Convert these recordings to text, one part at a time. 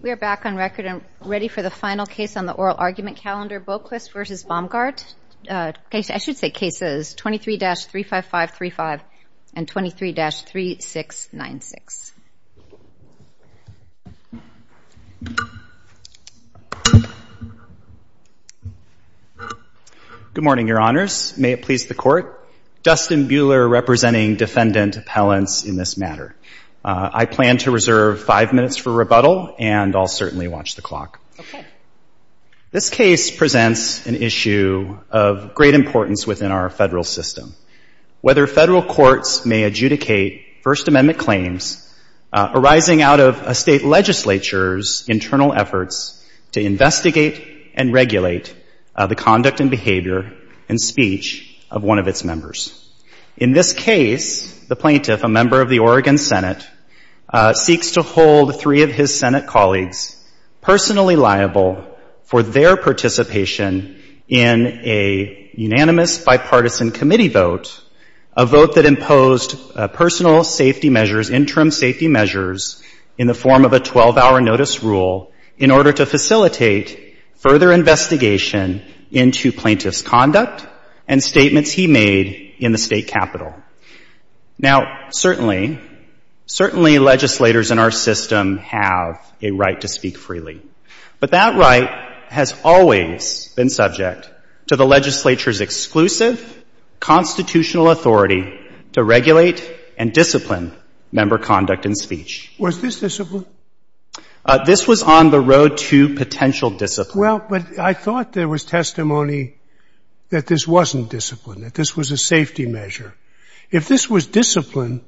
We are back on record and ready for the final case on the oral argument calendar, Boquist v. Baumgart. I should say cases 23-35535 and 23-3696. Good morning, Your Honors. May it please the Court, Justin Buehler representing defendant appellants in this matter. I plan to reserve five minutes for rebuttal and I'll certainly watch the clock. This case presents an issue of great importance within our federal system. Whether federal courts may adjudicate First Amendment claims arising out of a state legislature's internal efforts to investigate and regulate the conduct and behavior and speech of one of its members. In this case, the plaintiff, a member of the Oregon Senate, seeks to hold three of his Senate colleagues personally liable for their participation in a unanimous bipartisan committee vote, a vote that imposed personal safety measures, interim safety measures in the form of a 12-hour notice rule in order to facilitate further investigation into plaintiff's conduct and statements he made in the state capitol. Now certainly, certainly legislators in our system have a right to speak freely. But that right has always been subject to the legislature's exclusive constitutional authority to regulate and discipline member conduct and speech. Was this discipline? This was on the road to potential discipline. Well, but I thought there was testimony that this wasn't discipline, that this was a safety measure. If this was discipline,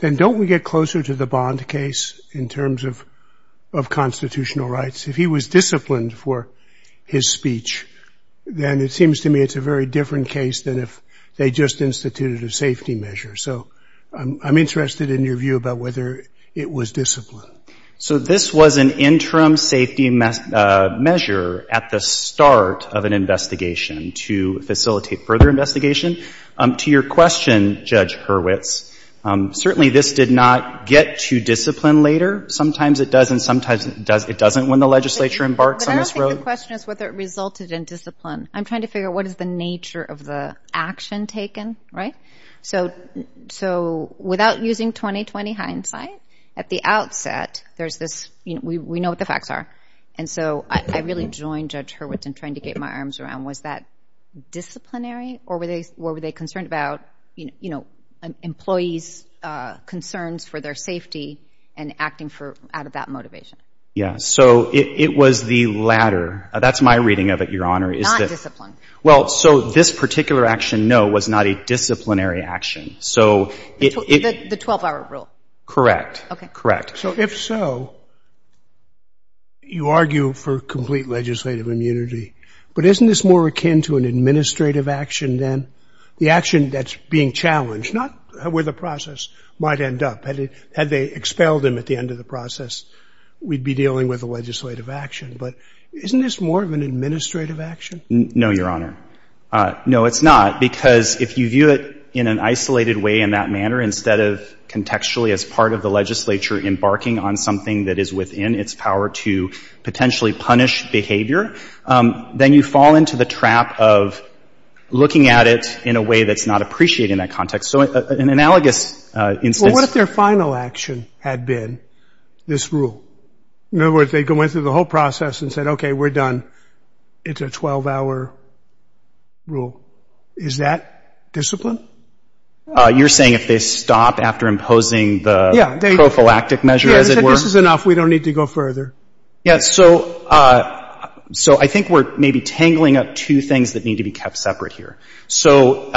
then don't we get closer to the Bond case in terms of constitutional rights? If he was disciplined for his speech, then it seems to me it's a very different case than if they just instituted a safety measure. So I'm interested in your view about whether it was discipline. So this was an interim safety measure at the start of an investigation to facilitate further investigation. To your question, Judge Hurwitz, certainly this did not get to discipline later. Sometimes it does and sometimes it doesn't when the legislature embarks on this road. But I don't think the question is whether it resulted in discipline. I'm trying to figure out what is the nature of the action taken, right? So without using 20-20 hindsight, at the outset, there's this, you know, we know what the facts are. And so I really joined Judge Hurwitz in trying to get my arms around was that disciplinary or were they concerned about, you know, employees' concerns for their safety and acting for out of that motivation? Yeah. So it was the latter. That's my reading of it, Your Honor, is that... Not discipline. Well, so this particular action, no, was not a disciplinary action. So it... The 12-hour rule. Correct. Okay. Correct. So if so, you argue for complete legislative immunity. But isn't this more akin to an administrative action then? The action that's being challenged, not where the process might end up, had they expelled him at the end of the process, we'd be dealing with a legislative action. But isn't this more of an administrative action? No, Your Honor. No, it's not, because if you view it in an isolated way in that manner, instead of contextually as part of the legislature embarking on something that is within its power to potentially punish behavior, then you fall into the trap of looking at it in a way that's not appreciated in that context. So an analogous instance... Well, what if their final action had been this rule? In other words, they went through the whole process and said, okay, we're done. It's a 12-hour rule. Is that discipline? You're saying if they stop after imposing the prophylactic measure, as it were? Yeah, this is enough. We don't need to go further. Yeah. So I think we're maybe tangling up two things that need to be kept separate here. So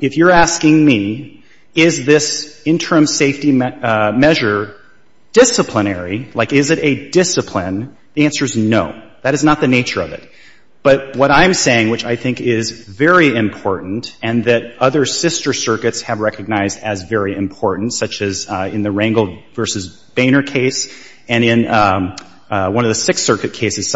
if you're asking me, is this interim safety measure disciplinary, like, is it a discipline? The answer is no. That is not the nature of it. But what I'm saying, which I think is very important and that other sister circuits have recognized as very important, such as in the Rangel v. Boehner case and in one of the Sixth Amendment cases,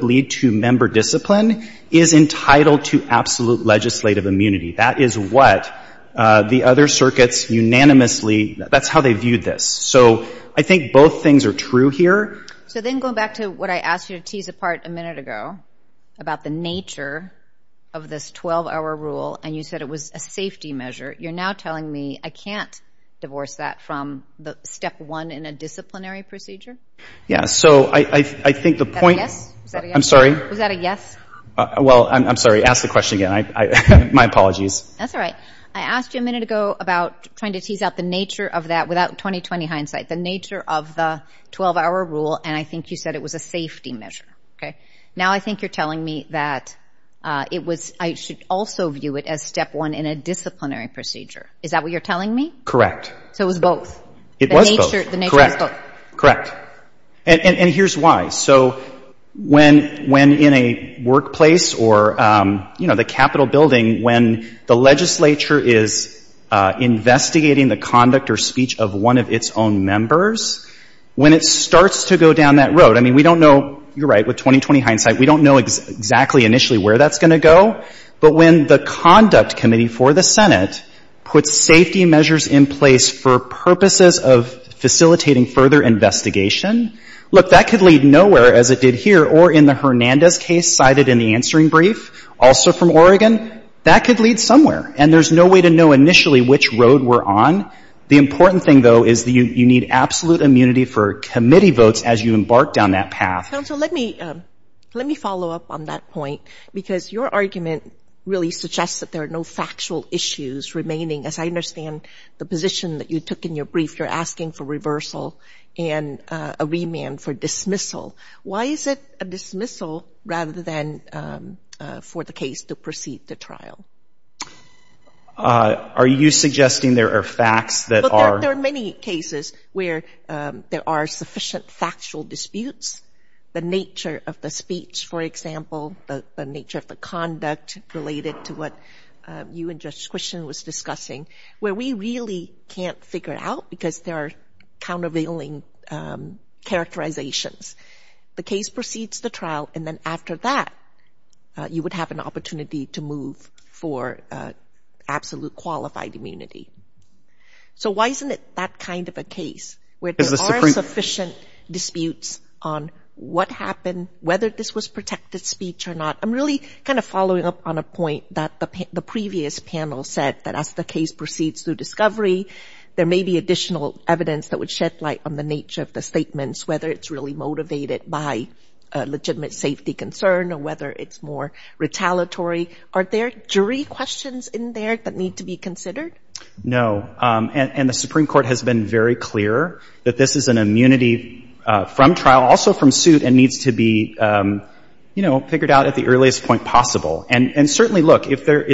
the member discipline is entitled to absolute legislative immunity. That is what the other circuits unanimously... That's how they viewed this. So I think both things are true here. So then going back to what I asked you to tease apart a minute ago about the nature of this 12-hour rule, and you said it was a safety measure, you're now telling me I can't divorce that from the step one in a disciplinary procedure? Yeah. So I think the point... Is that a yes? I'm sorry? Was that a yes? Well, I'm sorry. Ask the question again. My apologies. That's all right. I asked you a minute ago about trying to tease out the nature of that without 20-20 hindsight, the nature of the 12-hour rule, and I think you said it was a safety measure. Now I think you're telling me that I should also view it as step one in a disciplinary procedure. Is that what you're telling me? Correct. So it was both? It was both. Correct. And here's why. So when in a workplace or, you know, the Capitol building, when the legislature is investigating the conduct or speech of one of its own members, when it starts to go down that road, I mean, we don't know, you're right, with 20-20 hindsight, we don't know exactly initially where that's going to go, but when the conduct committee for the Senate puts safety measures in place for purposes of facilitating further investigation, look, that could lead nowhere, as it did here or in the Hernandez case cited in the answering brief, also from Oregon. That could lead somewhere. And there's no way to know initially which road we're on. The important thing, though, is that you need absolute immunity for committee votes as you embark down that path. Counsel, let me follow up on that point, because your argument really suggests that there are no factual issues remaining, as I understand the position that you took in your brief. You're asking for reversal and a remand for dismissal. Why is it a dismissal, rather than for the case to proceed to trial? Are you suggesting there are facts that are? Look, there are many cases where there are sufficient factual disputes. The nature of the speech, for example, the nature of the conduct related to what you and Judge Quistion was discussing, where we really can't figure it out because there are countervailing characterizations. The case proceeds to trial, and then after that, you would have an opportunity to move for absolute qualified immunity. So why isn't it that kind of a case, where there are sufficient disputes on what happened, whether this was protected speech or not? I'm really kind of following up on a point that the previous panel said, that as the case proceeds through discovery, there may be additional evidence that would shed light on the nature of the statements, whether it's really motivated by a legitimate safety concern or whether it's more retaliatory. Are there jury questions in there that need to be considered? And the Supreme Court has been very clear that this is an immunity from trial, also from suit, and needs to be, you know, figured out at the earliest point possible. And certainly, look, if there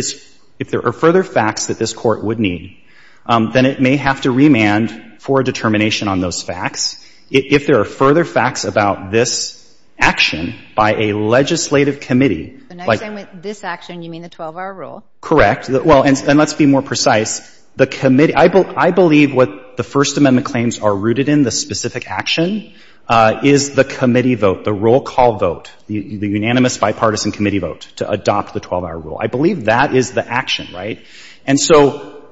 are further facts that this Court would need, then it may have to remand for determination on those facts. If there are further facts about this action by a legislative committee, like I'm saying with this action, you mean the 12-hour rule? Correct. Well, and let's be more precise. The committee, I believe what the First Amendment claims are rooted in, the specific action, is the committee vote, the roll call vote, the unanimous bipartisan committee vote to adopt the 12-hour rule. I believe that is the action, right? And so,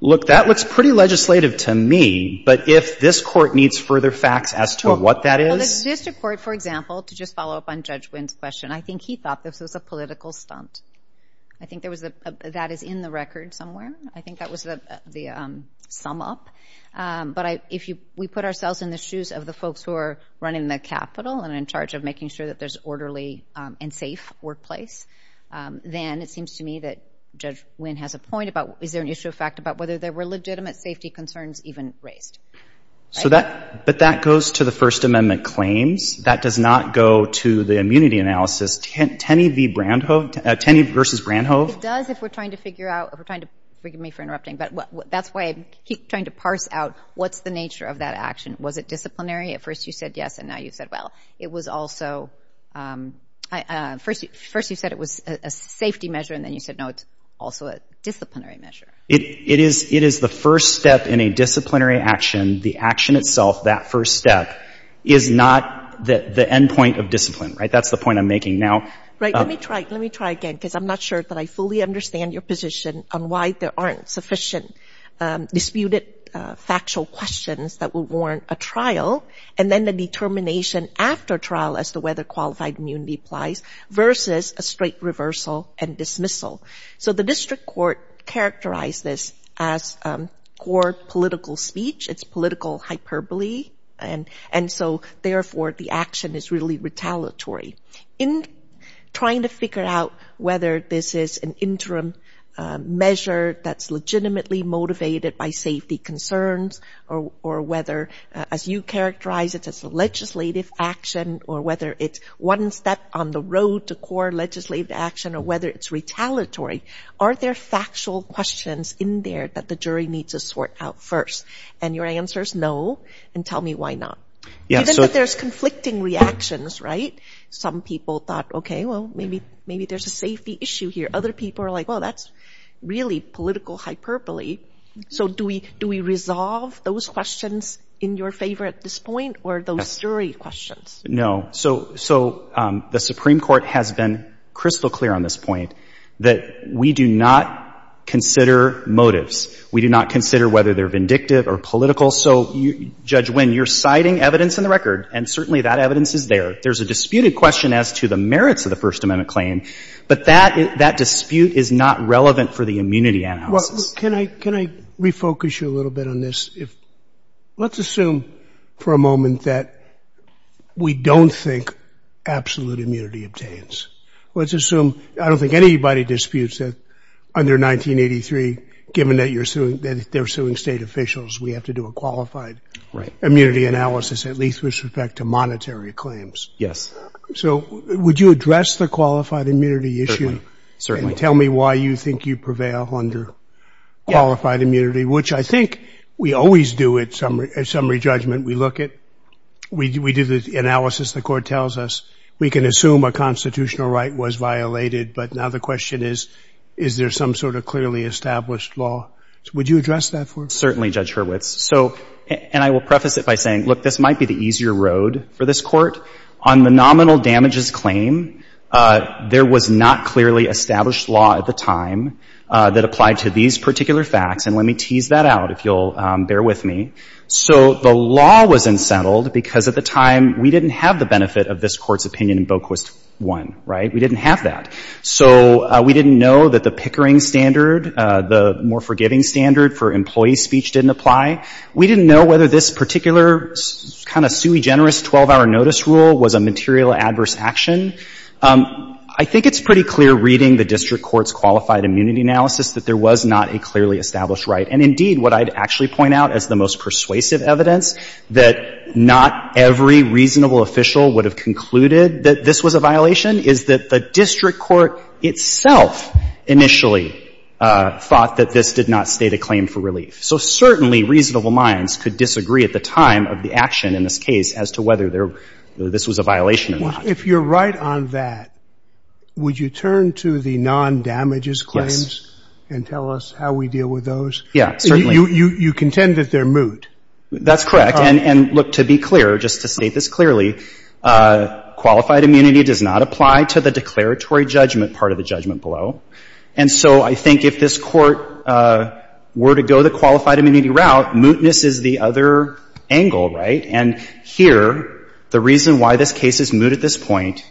look, that looks pretty legislative to me, but if this Court needs further facts as to what that is? Well, the district court, for example, to just follow up on Judge Wynn's question, I think he thought this was a political stunt. I think that is in the record somewhere. I think that was the sum up. But if we put ourselves in the shoes of the folks who are running the capital and in charge of making sure that there's an orderly and safe workplace, then it seems to me that Judge Wynn has a point about, is there an issue of fact about whether there were legitimate safety concerns even raised? But that goes to the First Amendment claims. That does not go to the immunity analysis. Tenney v. Brandhove? Tenney v. Brandhove? It does if we're trying to figure out, if we're trying to, forgive me for interrupting, but that's why I keep trying to parse out what's the nature of that action. Was it disciplinary? At first you said yes, and now you said well. It was also, first you said it was a safety measure, and then you said no, it's also a disciplinary measure. It is the first step in a disciplinary action. The action itself, that first step, is not the end point of discipline, right? That's the point I'm making now. Right. Let me try. Let me try again because I'm not sure that I fully understand your position on why there aren't sufficient disputed factual questions that will warrant a trial, and then the determination after trial as to whether qualified immunity applies versus a straight reversal and dismissal. So the district court characterized this as court political speech. It's political hyperbole, and so therefore the action is really retaliatory. In trying to figure out whether this is an interim measure that's legitimately motivated by safety concerns, or whether, as you characterize it as a legislative action, or whether it's one step on the road to core legislative action, or whether it's retaliatory, are there factual questions in there that the jury needs to sort out first? And your answer is no, and tell me why not. Even if there's conflicting reactions, right? Some people thought, okay, well, maybe there's a safety issue here. Other people are like, well, that's really political hyperbole. So do we resolve those questions in your favor at this point, or those jury questions? No. So the Supreme Court has been crystal clear on this point that we do not consider motives. We do not consider whether they're vindictive or political. So, Judge Winn, you're citing evidence in the record, and certainly that evidence is there. There's a disputed question as to the merits of the First Amendment claim, but that dispute is not relevant for the immunity analysis. Can I refocus you a little bit on this? Let's assume for a moment that we don't think absolute immunity obtains. Let's assume, I don't think anybody disputes that under 1983, given that they're suing state officials, we have to do a qualified immunity analysis, at least with respect to monetary claims. Yes. So would you address the qualified immunity issue and tell me why you think you prevail under qualified immunity, which I think we always do at summary judgment. We look at, we do the analysis. The court tells us we can assume a constitutional right was violated, but now the question is, is there some sort of clearly established law? Would you address that for us? Certainly, Judge Hurwitz. So, and I will preface it by saying, look, this might be the easier road for this court. On the nominal damages claim, there was not clearly established law at the time that applied to these particular facts. And let me tease that out, if you'll bear with me. So the law was unsettled because at the time, we didn't have the benefit of this court's opinion in Boquist 1, right? We didn't have that. So we didn't know that the Pickering standard, the more forgiving standard for employee speech didn't apply. We didn't know whether this particular kind of sui generis 12-hour notice rule was a material adverse action. I think it's pretty clear reading the district court's qualified immunity analysis that there was not a clearly established right. And indeed, what I'd actually point out as the most persuasive evidence that not every reasonable official would have concluded that this was a violation is that the district court itself initially thought that this did not state a claim for relief. So certainly, reasonable minds could disagree at the time of the action in this case as to whether this was a violation or not. If you're right on that, would you turn to the non-damages claims and tell us how we deal with those? Yeah, certainly. You contend that they're moot. That's correct. And look, to be clear, just to state this clearly, qualified immunity does not apply to the declaratory judgment part of the judgment below. And so I think if this Court were to go the qualified immunity route, mootness is the other angle, right? And here, the reason why this case is moot at this point,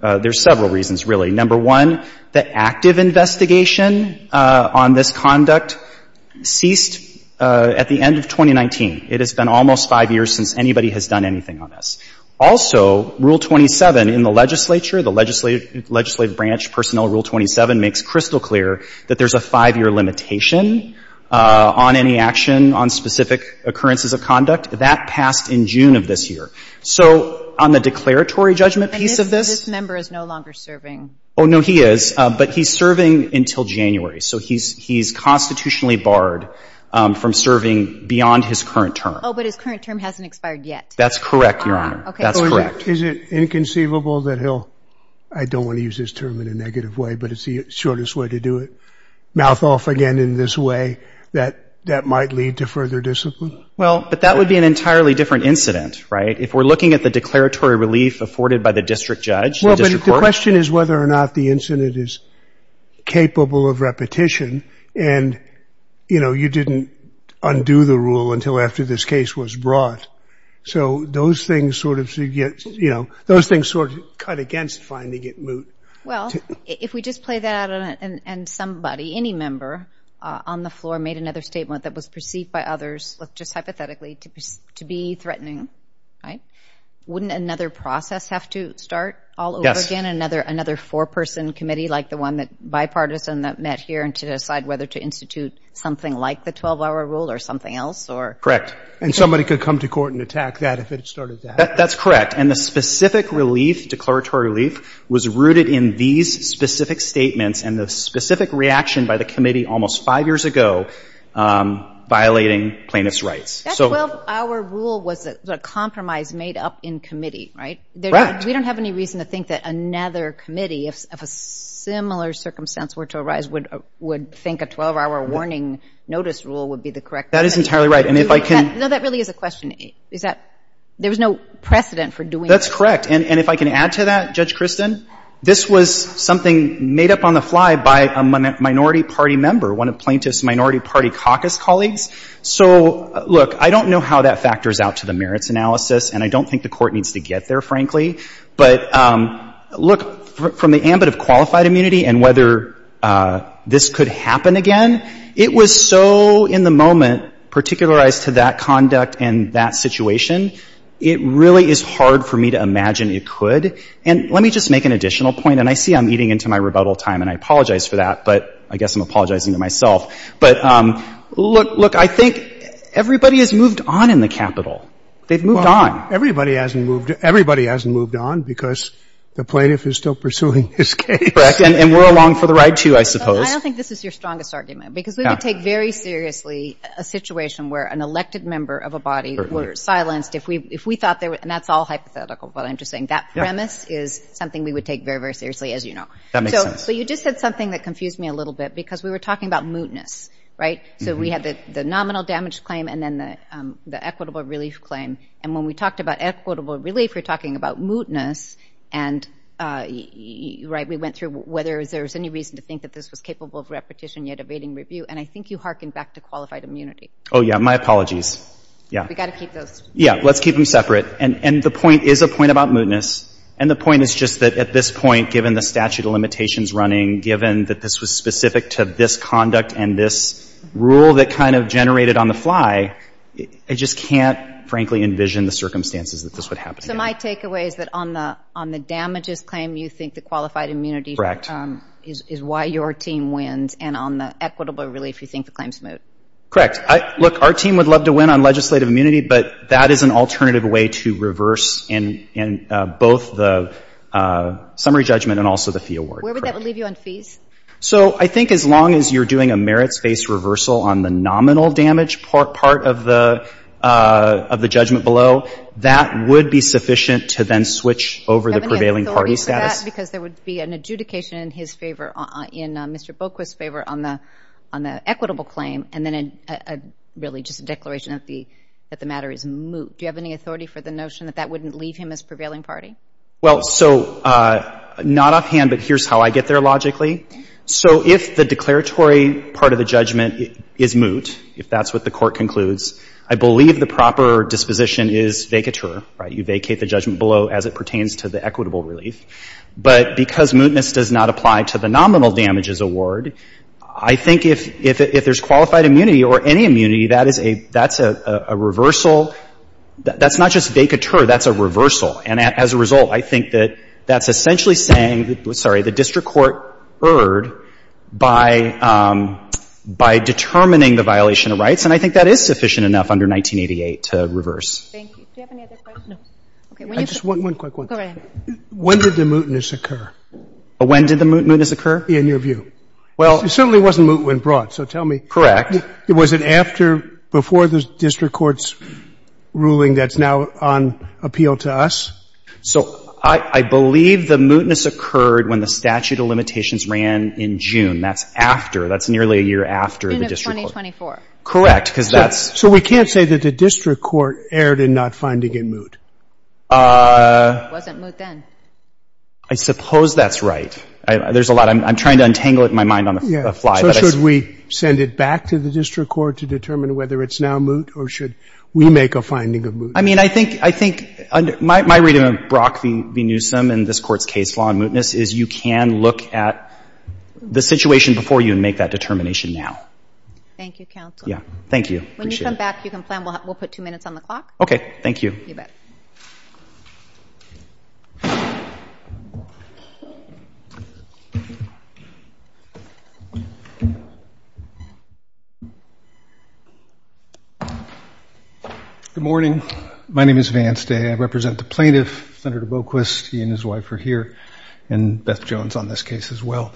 there's several reasons, really. Number one, the active investigation on this conduct ceased at the end of 2019. It has been almost five years since anybody has done anything on this. Also, Rule 27 in the legislature, the legislative branch personnel Rule 27 makes crystal clear that there's a five-year limitation on any action on specific occurrences of conduct. That passed in June of this year. So on the declaratory judgment piece of this — Oh, no, he is. But he's serving until January. So he's constitutionally barred from serving beyond his current term. Oh, but his current term hasn't expired yet. That's correct, Your Honor. That's correct. Is it inconceivable that he'll — I don't want to use this term in a negative way, but it's the shortest way to do it — mouth off again in this way, that that might lead to further discipline? Well, but that would be an entirely different incident, right? If we're looking at the declaratory relief afforded by the district judge, the district court — It depends whether or not the incident is capable of repetition. And, you know, you didn't undo the rule until after this case was brought. So those things sort of — you know, those things sort of cut against finding it moot. Well, if we just play that out and somebody, any member on the floor made another statement that was perceived by others, just hypothetically, to be threatening, right, wouldn't another process have to start all over again, another four-person committee like the one that bipartisan that met here and to decide whether to institute something like the 12-hour rule or something else, or — And somebody could come to court and attack that if it started that. That's correct. And the specific relief, declaratory relief, was rooted in these specific statements and the specific reaction by the committee almost five years ago violating plaintiff's rights. That 12-hour rule was a compromise made up in committee, right? Correct. We don't have any reason to think that another committee of a similar circumstance were to arise would think a 12-hour warning notice rule would be the correct thing. That is entirely right. And if I can — No, that really is a question. Is that — there was no precedent for doing that. That's correct. And if I can add to that, Judge Christin, this was something made up on the fly by a minority party member, one of plaintiff's minority party caucus colleagues. So, look, I don't know how that factors out to the merits analysis, and I don't think the court needs to get there, frankly. But, look, from the ambit of qualified immunity and whether this could happen again, it was so in the moment particularized to that conduct and that situation, it really is hard for me to imagine it could. And let me just make an additional point, and I see I'm eating into my rebuttal time, and I apologize for that, but I guess I'm apologizing to myself. But, look, I think everybody has moved on in the Capitol. They've moved on. Everybody hasn't moved — everybody hasn't moved on because the plaintiff is still pursuing his case. Correct. And we're along for the ride, too, I suppose. I don't think this is your strongest argument, because we would take very seriously a situation where an elected member of a body were silenced if we — if we thought there — and that's all hypothetical, but I'm just saying that premise is something we would take very, very seriously, as you know. That makes sense. So you just said something that confused me a little bit, because we were talking about mootness, right? So we had the nominal damage claim and then the equitable relief claim. And when we talked about equitable relief, we're talking about mootness and — right? We went through whether there was any reason to think that this was capable of repetition, yet evading review. And I think you hearkened back to qualified immunity. Oh, yeah. My apologies. Yeah. We've got to keep those. Yeah. Let's keep them separate. And the point is a point about mootness, and the point is just that at this point, given the statute of limitations running, given that this was specific to this conduct and this rule that kind of generated on the fly, I just can't, frankly, envision the circumstances that this would happen again. So my takeaway is that on the damages claim, you think the qualified immunity —— is why your team wins, and on the equitable relief, you think the claim's moot. Correct. Look, our team would love to win on legislative immunity, but that is an alternative way to reverse in both the summary judgment and also the fee award. Where would that leave you on fees? So I think as long as you're doing a merits-based reversal on the nominal damage part of the — of the judgment below, that would be sufficient to then switch over the prevailing party status. Do you have any authority for that, because there would be an adjudication in his favor — in Mr. Boquist's favor on the equitable claim, and then really just a declaration that the — that the matter is moot. Do you have any authority for the notion that that wouldn't leave him as prevailing party? Well, so not offhand, but here's how I get there logically. So if the declaratory part of the judgment is moot, if that's what the court concludes, I believe the proper disposition is vacatur, right? You vacate the judgment below as it pertains to the equitable relief. But because mootness does not apply to the nominal damages award, I think if — if there's qualified immunity or any immunity, that is a — that's a reversal. That's not just vacatur. That's a reversal. And as a result, I think that that's essentially saying — sorry, the district court erred by — by determining the violation of rights. And I think that is sufficient enough under 1988 to reverse. Thank you. Do you have any other questions? No. Okay. When you — I just — one quick one. Go ahead. When did the mootness occur? When did the mootness occur? In your view. Well — It certainly wasn't moot when brought, so tell me — Correct. Was it after — before the district court's ruling that's now on appeal to us? So I — I believe the mootness occurred when the statute of limitations ran in June. That's after. That's nearly a year after the district court — In of 2024. Correct. Because that's — So we can't say that the district court erred in not finding it moot. It wasn't moot then. I suppose that's right. There's a lot — I'm trying to untangle it in my mind on the fly. Yeah. So should we send it back to the district court to determine whether it's now moot, or should we make a finding of moot? I mean, I think — I think my — my reading of Brock v. Newsom and this court's case law on mootness is you can look at the situation before you and make that determination now. Thank you, counsel. Yeah. Thank you. Appreciate it. When you come back, you can plan. We'll — we'll put two minutes on the clock. Okay. Thank you. You bet. Good morning. My name is Vance Day. I represent the plaintiff, Senator Boquist. He and his wife are here, and Beth Jones on this case as well.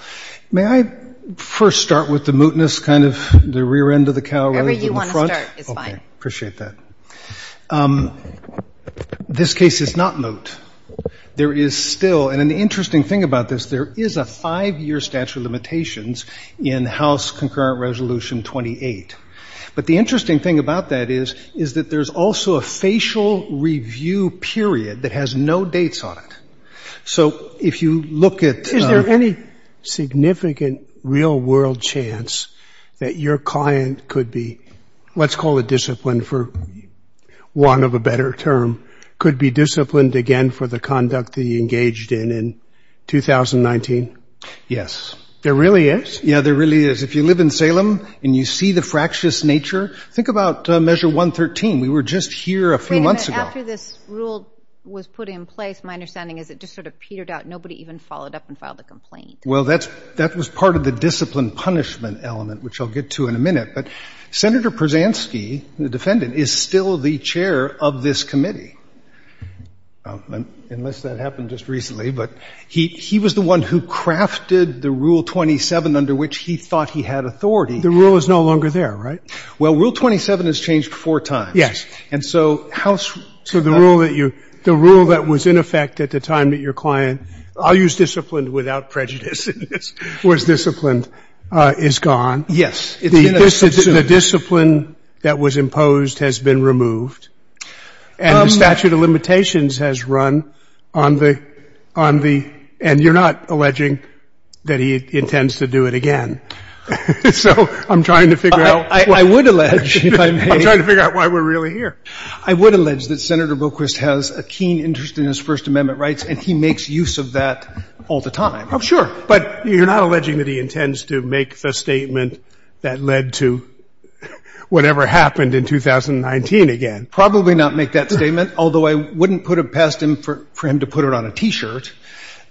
May I first start with the mootness, kind of the rear end of the cow rather than the front? Whatever you want to start is fine. Okay. Appreciate that. The plaintiff, Senator Boquist, is here, and Beth Jones on this case as well. This case is not moot. There is still — and the interesting thing about this, there is a five-year statute of limitations in House Concurrent Resolution 28. But the interesting thing about that is, is that there's also a facial review period that has no dates on it. So if you look at — real-world chance that your client could be, let's call it disciplined for want of a better term, could be disciplined again for the conduct that he engaged in in 2019? Yes. There really is? Yeah, there really is. If you live in Salem and you see the fractious nature, think about Measure 113. We were just here a few months ago. After this rule was put in place, my understanding is it just sort of petered out. Nobody even followed up and filed a complaint. Well, that's — that was part of the discipline punishment element, which I'll get to in a minute. But Senator Prasansky, the defendant, is still the chair of this committee, unless that happened just recently. But he was the one who crafted the Rule 27 under which he thought he had authority. The rule is no longer there, right? Well, Rule 27 has changed four times. Yes. And so House — So the rule that you — the rule that was in effect at the time that your client — I'll use disciplined without prejudice in this — was disciplined is gone. It's been assumed. The discipline that was imposed has been removed. And the statute of limitations has run on the — on the — and you're not alleging that he intends to do it again. So I'm trying to figure out — I would allege, if I may — I'm trying to figure out why we're really here. I would allege that Senator Boquist has a keen interest in his First Amendment rights, and he makes use of that all the time. Oh, sure. But you're not alleging that he intends to make the statement that led to whatever happened in 2019 again. Probably not make that statement, although I wouldn't put it past him for him to put it on a T-shirt.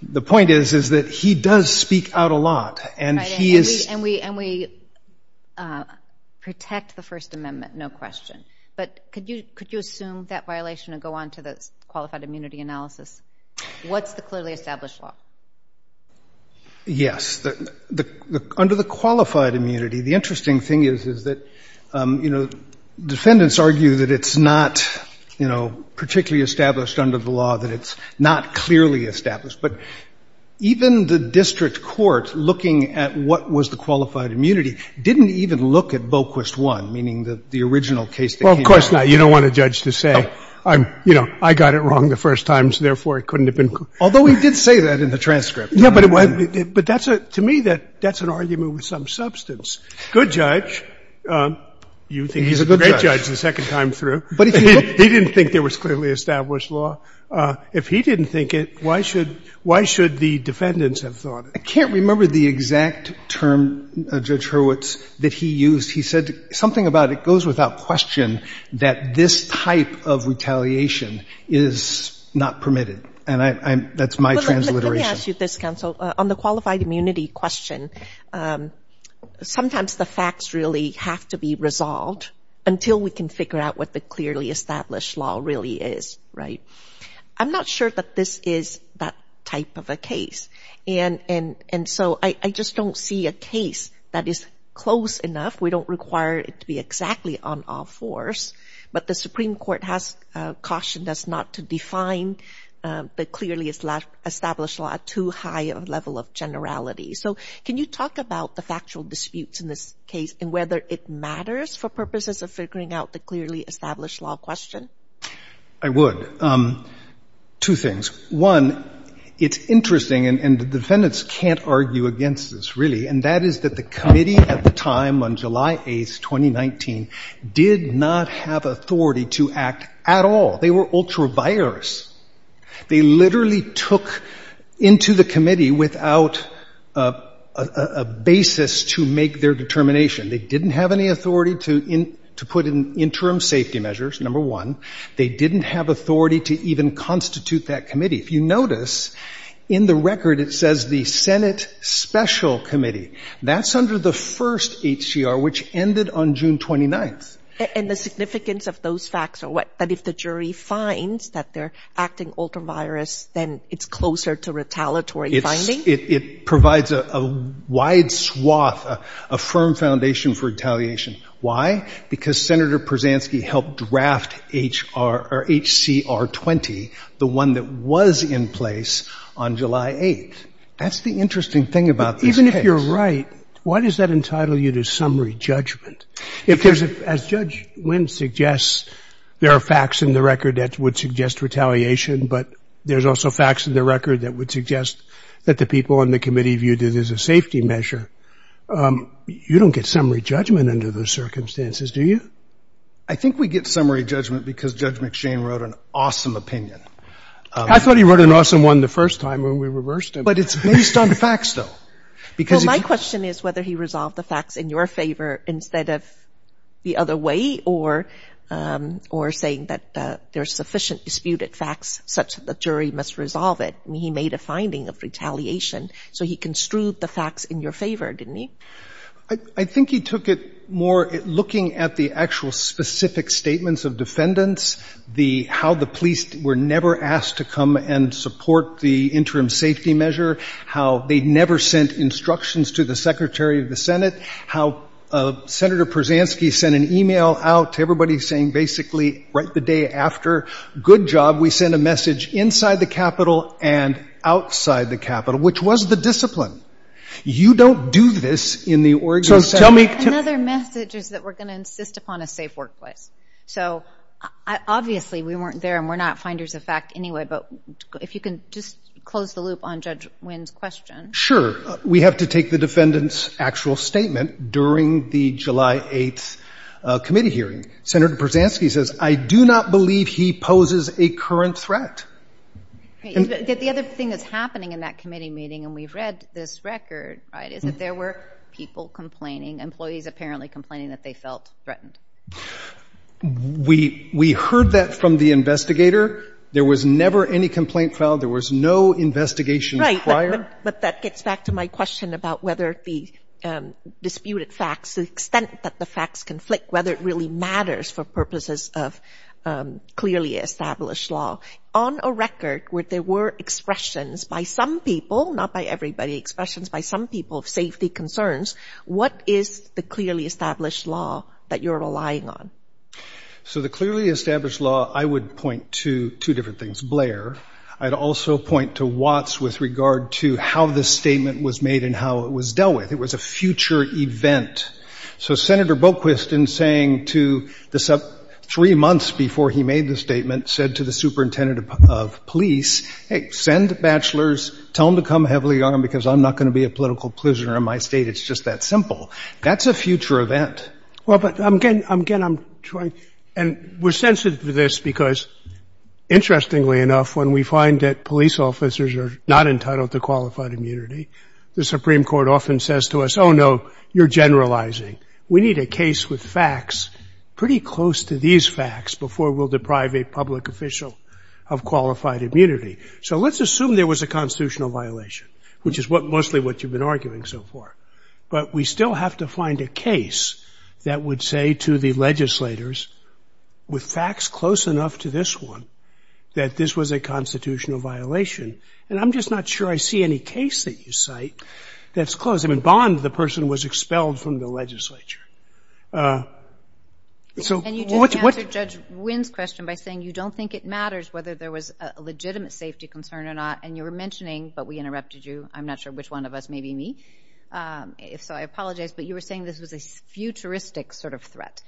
The point is, is that he does speak out a lot. And he is — Right. And we — and we protect the First Amendment, no question. But could you — could you assume that violation and go on to the qualified immunity analysis? What's the clearly established law? Yes. The — under the qualified immunity, the interesting thing is, is that, you know, defendants argue that it's not, you know, particularly established under the law, that it's not clearly established. But even the district court, looking at what was the qualified immunity, didn't even look at Boquist I, meaning the original case that came out. Well, of course not. You don't want a judge to say, you know, I got it wrong the first time, so therefore it couldn't have been — Although he did say that in the transcript. Yeah, but it was — but that's a — to me, that's an argument with some substance. Good judge. You think he's a great judge the second time through. But if you look — He didn't think there was clearly established law. If he didn't think it, why should — why should the defendants have thought it? I can't remember the exact term Judge Hurwitz — that he used. He said something about it goes without question, that this type of retaliation is not permitted. And I'm — that's my transliteration. Let me ask you this, counsel. On the qualified immunity question, sometimes the facts really have to be resolved until we can figure out what the clearly established law really is, right? I'm not sure that this is that type of a case. And so I just don't see a case that is close enough. We don't require it to be exactly on all fours. But the Supreme Court has cautioned us not to define the clearly established law at too high a level of generality. So can you talk about the factual disputes in this case and whether it matters for purposes of figuring out the clearly established law question? I would. Two things. One, it's interesting, and the defendants can't argue against this, really, and that is that the committee at the time, on July 8th, 2019, did not have authority to act at all. They were ultra vires. They literally took into the committee without a basis to make their determination. They didn't have any authority to put in interim safety measures, number one. They didn't have authority to even constitute that committee. If you notice, in the record it says the Senate Special Committee. That's under the first HCR, which ended on June 29th. And the significance of those facts are what? That if the jury finds that they're acting ultra vires, then it's closer to retaliatory finding? It provides a wide swath, a firm foundation for retaliation. Why? Because Senator Persansky helped draft HCR 20, the one that was in place on July 8th. That's the interesting thing about this case. But even if you're right, why does that entitle you to summary judgment? If there's a, as Judge Wynn suggests, there are facts in the record that would suggest retaliation, but there's also facts in the record that would suggest that the people on the committee viewed it as a safety measure. You don't get summary judgment under those circumstances, do you? I think we get summary judgment because Judge McShane wrote an awesome opinion. I thought he wrote an awesome one the first time when we reversed him. But it's based on the facts, though. Well, my question is whether he resolved the facts in your favor instead of the other way or saying that there's sufficient disputed facts such that the jury must resolve it. He made a finding of retaliation. So he construed the facts in your favor, didn't he? I think he took it more looking at the actual specific statements of defendants, how the police were never asked to come and support the interim safety measure, how they never sent instructions to the Secretary of the Senate, how Senator Persansky sent an email out to everybody saying basically right the day after, good job, we sent a message inside the Capitol and outside the Capitol, which was the discipline. You don't do this in the Oregon Senate. Another message is that we're going to insist upon a safe workplace. So obviously we weren't there and we're not finders of fact anyway, but if you can just close the loop on Judge Wynn's question. Sure. We have to take the defendant's actual statement during the July 8th committee hearing. Senator Persansky says, I do not believe he poses a current threat. The other thing that's happening in that committee meeting, and we've read this record, right, is that there were people complaining, employees apparently complaining, that they felt threatened. We heard that from the investigator. There was never any complaint filed. There was no investigation prior. Right, but that gets back to my question about whether the disputed facts, the extent that the facts conflict, whether it really matters for purposes of clearly established law. On a record where there were expressions by some people, not by everybody, expressions by some people of safety concerns, what is the clearly established law that you're relying on? So the clearly established law, I would point to two different things. Blair, I'd also point to Watts with regard to how this statement was made and how it was dealt with. It was a future event. So Senator Boquist, in saying to the three months before he made the statement, said to the superintendent of police, hey, send bachelors. Tell them to come heavily armed because I'm not going to be a political prisoner in my state. It's just that simple. That's a future event. Well, but, again, I'm trying. And we're sensitive to this because, interestingly enough, when we find that police officers are not entitled to qualified immunity, the Supreme Court often says to us, oh, no, you're generalizing. We need a case with facts pretty close to these facts before we'll deprive a public official of qualified immunity. So let's assume there was a constitutional violation, which is mostly what you've been arguing so far. But we still have to find a case that would say to the legislators, with facts close enough to this one, that this was a constitutional violation. And I'm just not sure I see any case that you cite that's close. I mean, Bond, the person, was expelled from the legislature. So what's what? And you just answered Judge Wynn's question by saying you don't think it matters whether there was a legitimate safety concern or not. And you were mentioning, but we interrupted you. I'm not sure which one of us, maybe me. So I apologize. But you were saying this was a futuristic sort of threat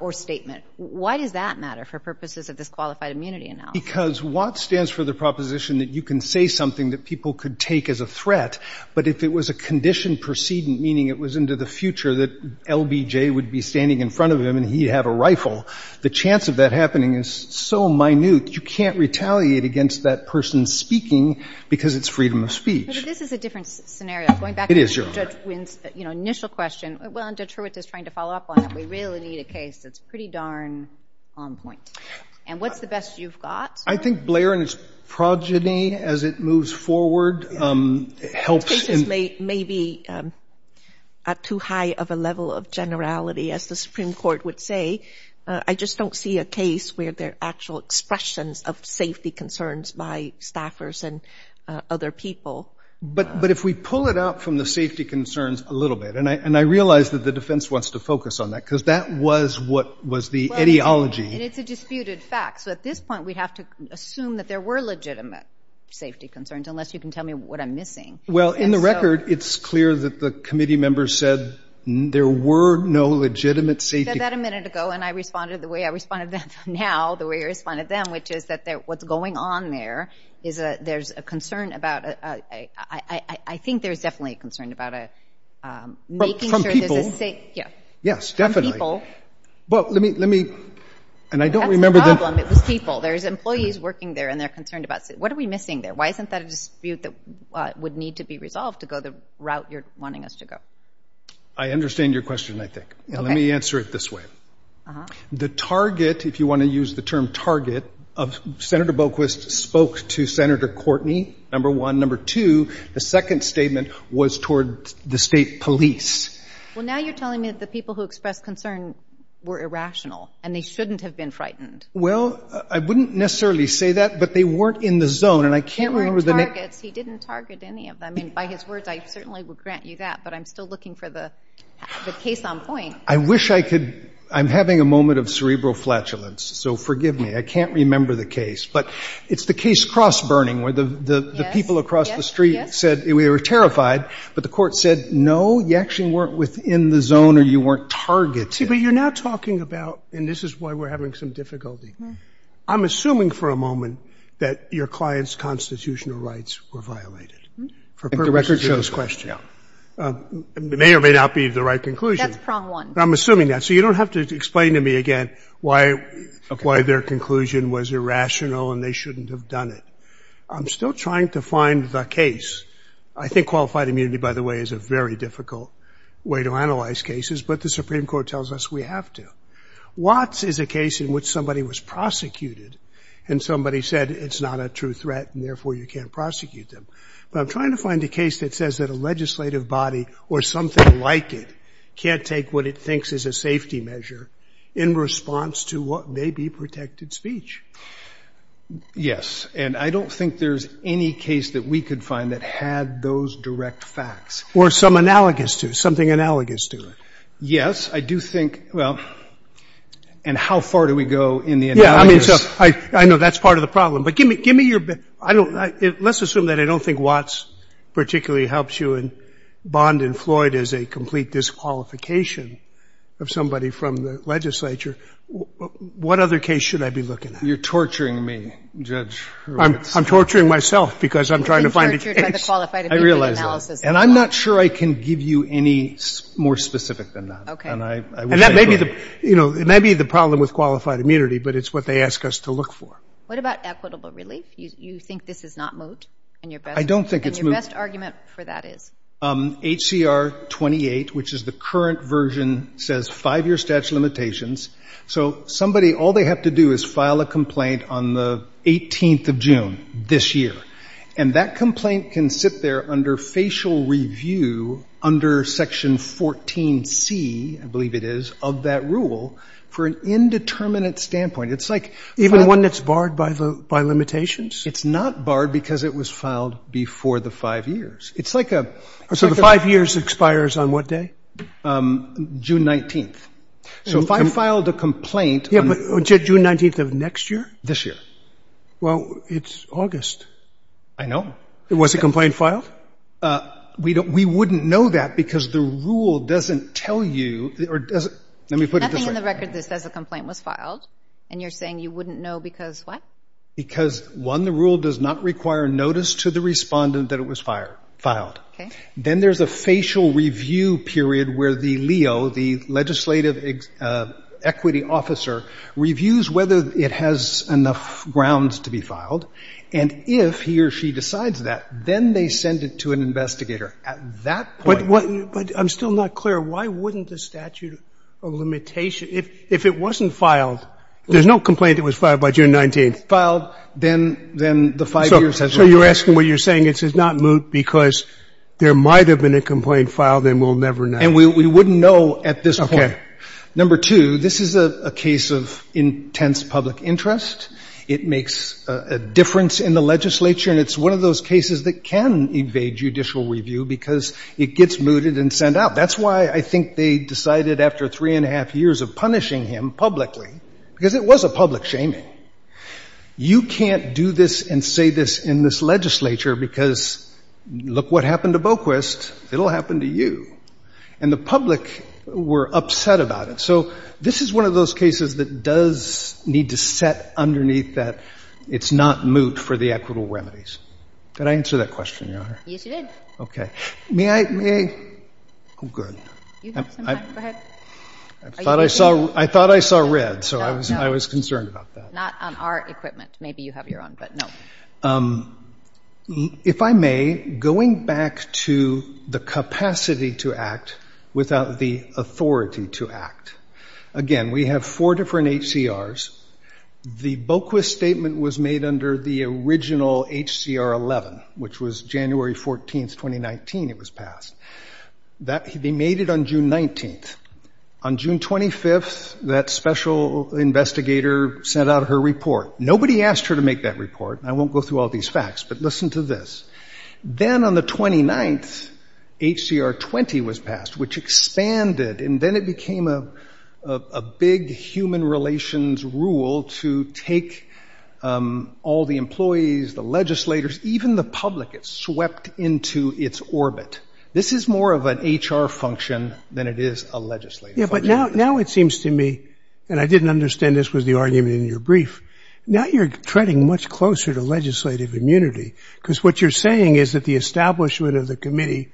or statement. Why does that matter for purposes of this qualified immunity announcement? Because Watt stands for the proposition that you can say something that people could take as a threat. But if it was a conditioned precedent, meaning it was into the future that LBJ would be standing in front of him and he'd have a rifle, the chance of that happening is so minute, you can't retaliate against that person speaking because it's freedom of speech. But this is a different scenario. It is, Your Honor. Going back to Judge Wynn's, you know, initial question. Well, and Judge Hurwitz is trying to follow up on it. We really need a case that's pretty darn on point. And what's the best you've got? I think Blair and his progeny, as it moves forward, helps. This case is maybe at too high of a level of generality, as the Supreme Court would say. I just don't see a case where there are actual expressions of safety concerns by staffers and other people. But if we pull it out from the safety concerns a little bit, and I realize that the defense wants to focus on that because that was what was the ideology. And it's a disputed fact. So at this point, we'd have to assume that there were legitimate safety concerns, unless you can tell me what I'm missing. Well, in the record, it's clear that the committee members said there were no legitimate safety concerns. I said that a minute ago, and I responded the way I respond now, the way I respond to them, which is that what's going on there is there's a concern about – I think there's definitely a concern about making sure there's a safety – Yes, definitely. From people. Well, let me – and I don't remember the – That's the problem. It was people. There's employees working there, and they're concerned about – what are we missing there? Why isn't that a dispute that would need to be resolved to go the route you're wanting us to go? I understand your question, I think. Okay. Let me answer it this way. Uh-huh. The target, if you want to use the term target, of – Senator Boquist spoke to Senator Courtney, number one. Number two, the second statement was toward the state police. Well, now you're telling me that the people who expressed concern were irrational, and they shouldn't have been frightened. Well, I wouldn't necessarily say that, but they weren't in the zone, and I can't remember the – They weren't targets. He didn't target any of them. I mean, by his words, I certainly would grant you that, but I'm still looking for the case on point. I wish I could – I'm having a moment of cerebral flatulence, so forgive me. I can't remember the case. But it's the case cross-burning, where the people across the street said we were terrified, but the court said, no, you actually weren't within the zone or you weren't targeted. See, but you're now talking about – and this is why we're having some difficulty. I'm assuming for a moment that your client's constitutional rights were violated, for purposes of this question. The record shows, yeah. It may or may not be the right conclusion. That's prong one. I'm assuming that. So you don't have to explain to me again why their conclusion was irrational and they shouldn't have done it. I'm still trying to find the case. I think qualified immunity, by the way, is a very difficult way to analyze cases, but the Supreme Court tells us we have to. Watts is a case in which somebody was prosecuted and somebody said, it's not a true threat and therefore you can't prosecute them. But I'm trying to find a case that says that a legislative body or something like it can't take what it thinks is a safety measure in response to what may be protected speech. Yes. And I don't think there's any case that we could find that had those direct facts. Or some analogous to it, something analogous to it. Yes. I do think – well, and how far do we go in the analysis? Yeah, I mean, so I know that's part of the problem. But give me your – let's assume that I don't think Watts particularly helps you and Bond and Floyd is a complete disqualification of somebody from the legislature. What other case should I be looking at? You're torturing me, Judge Watts. I'm torturing myself because I'm trying to find a case. You've been tortured by the qualified immunity analysis. I realize that. And I'm not sure I can give you any more specific than that. Okay. And I wish I could. And that may be the – you know, it may be the problem with qualified immunity, but it's what they ask us to look for. What about equitable relief? You think this is not moot? I don't think it's moot. And your best argument for that is? HCR 28, which is the current version, says five-year statute of limitations. So somebody, all they have to do is file a complaint on the 18th of June, this year. And that complaint can sit there under facial review under Section 14C, I believe it is, of that rule for an indeterminate standpoint. It's like – Even one that's barred by limitations? It's not barred because it was filed before the five years. It's like a – So the five years expires on what day? June 19th. So if I filed a complaint on – Yeah, but June 19th of next year? This year. Well, it's August. I know. Was the complaint filed? We wouldn't know that because the rule doesn't tell you – or doesn't – Nothing in the record that says the complaint was filed, and you're saying you wouldn't know because what? Because, one, the rule does not require notice to the respondent that it was filed. Okay. Then there's a facial review period where the LEO, the legislative equity officer, reviews whether it has enough grounds to be filed. And if he or she decides that, then they send it to an investigator. At that point – But what – but I'm still not clear. Why wouldn't the statute of limitation – if it wasn't filed – There's no complaint that was filed by June 19th. Filed, then the five years has not expired. I'm not sure you're asking what you're saying. It says not moot because there might have been a complaint filed and we'll never know. And we wouldn't know at this point. Number two, this is a case of intense public interest. It makes a difference in the legislature, and it's one of those cases that can evade judicial review because it gets mooted and sent out. That's why I think they decided after three and a half years of punishing him publicly, because it was a public shaming. You can't do this and say this in this legislature because, look what happened to Boquist. It'll happen to you. And the public were upset about it. So this is one of those cases that does need to set underneath that it's not moot for the equitable remedies. Did I answer that question, Your Honor? Yes, you did. Okay. May I – oh, good. You have some time. Go ahead. I thought I saw red, so I was concerned about that. Not on our equipment. Maybe you have your own, but no. If I may, going back to the capacity to act without the authority to act, again, we have four different HCRs. The Boquist statement was made under the original HCR 11, which was January 14th, 2019 it was passed. They made it on June 19th. On June 25th, that special investigator sent out her report. Nobody asked her to make that report. I won't go through all these facts, but listen to this. Then on the 29th, HCR 20 was passed, which expanded, and then it became a big human relations rule to take all the employees, the legislators, even the public. It swept into its orbit. This is more of an HR function than it is a legislative function. Yeah, but now it seems to me, and I didn't understand this was the argument in your brief, now you're treading much closer to legislative immunity, because what you're saying is that the establishment of the committee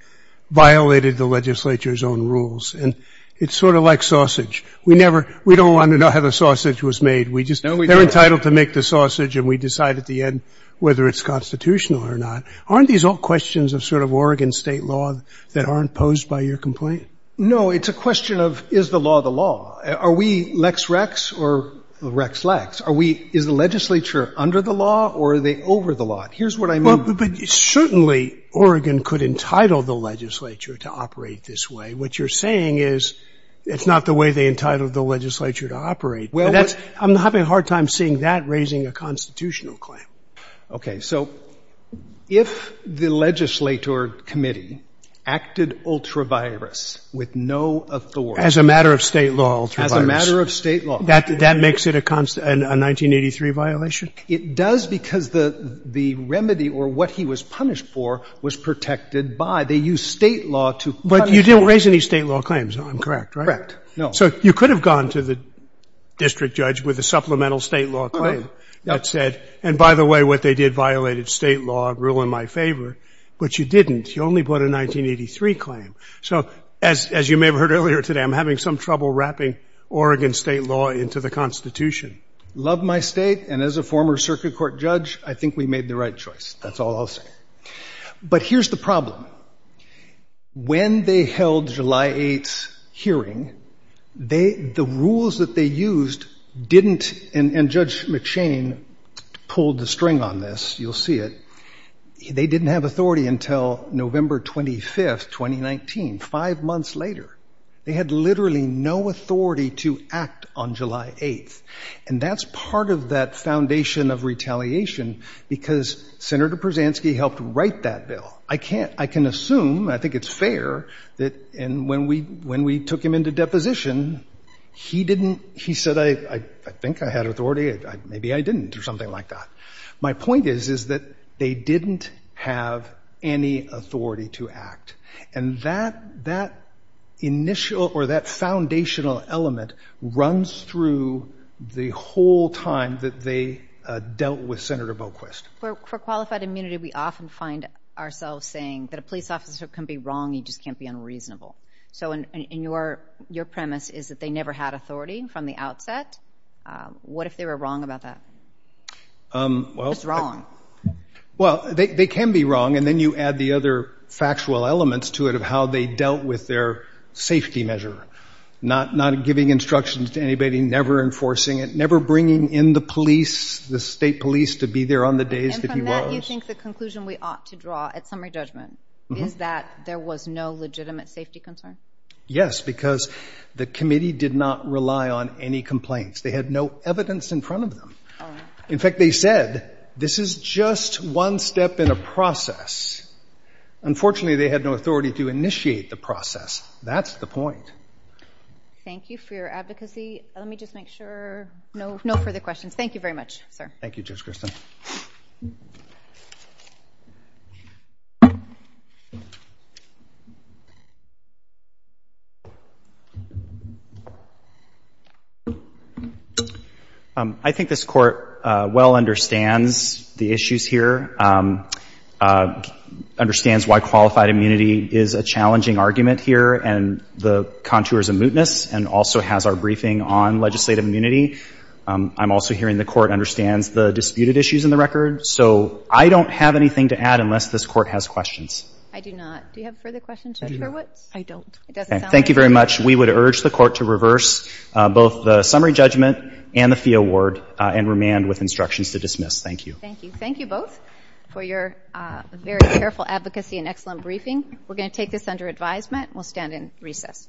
violated the legislature's own rules, and it's sort of like sausage. We never – we don't want to know how the sausage was made. We just – they're entitled to make the sausage, and we decide at the end whether it's constitutional or not. Aren't these all questions of sort of Oregon state law that aren't posed by your complaint? No, it's a question of is the law the law. Are we lex rex or rex lex? Are we – is the legislature under the law or are they over the law? Here's what I mean. But certainly Oregon could entitle the legislature to operate this way. What you're saying is it's not the way they entitled the legislature to operate. I'm having a hard time seeing that raising a constitutional claim. Okay. So if the legislature committee acted ultra virus with no authority. As a matter of state law, ultra virus. As a matter of state law. That makes it a 1983 violation? It does because the remedy or what he was punished for was protected by – they used state law to punish him. But you didn't raise any state law claims. I'm correct, right? Correct. No. So you could have gone to the district judge with a supplemental state law claim that said and by the way what they did violated state law, rule in my favor. But you didn't. You only put a 1983 claim. So as you may have heard earlier today, I'm having some trouble wrapping Oregon state law into the Constitution. Love my state. And as a former circuit court judge, I think we made the right choice. That's all I'll say. But here's the problem. When they held July 8th's hearing, the rules that they used didn't – and Judge McShane pulled the string on this. You'll see it. They didn't have authority until November 25th, 2019, five months later. They had literally no authority to act on July 8th. And that's part of that foundation of retaliation because Senator Persansky helped write that bill. I can't – I can assume, I think it's fair, that when we took him into deposition, he didn't – he said, I think I had authority, maybe I didn't or something like that. My point is, is that they didn't have any authority to act. And that initial or that foundational element runs through the whole time that they dealt with Senator Boquist. For qualified immunity, we often find ourselves saying that a police officer can be wrong, he just can't be unreasonable. So in your premise is that they never had authority from the outset. What if they were wrong about that? What's wrong? Well, they can be wrong, and then you add the other factual elements to it of how they dealt with their safety measure, not giving instructions to anybody, never enforcing it, never bringing in the police, the state police to be there on the days that he was. And from that, you think the conclusion we ought to draw at summary judgment is that there was no legitimate safety concern? Yes, because the committee did not rely on any complaints. They had no evidence in front of them. In fact, they said, this is just one step in a process. Unfortunately, they had no authority to initiate the process. That's the point. Thank you for your advocacy. Let me just make sure no further questions. Thank you very much, sir. Thank you, Judge Christin. I think this court well understands the issues here, understands why qualified immunity is a challenging argument here, and the contours of mootness, and also has our briefing on legislative immunity. I'm also hearing the court understands the disputed issues in the record. So I don't have anything to add unless this court has questions. I do not. Do you have further questions, Judge Hurwitz? I don't. Thank you very much. We would urge the court to reverse both the summary judgment and the fee award, and remand with instructions to dismiss. Thank you. Thank you. Thank you both for your very careful advocacy and excellent briefing. We're going to take this under advisement, and we'll stand in recess.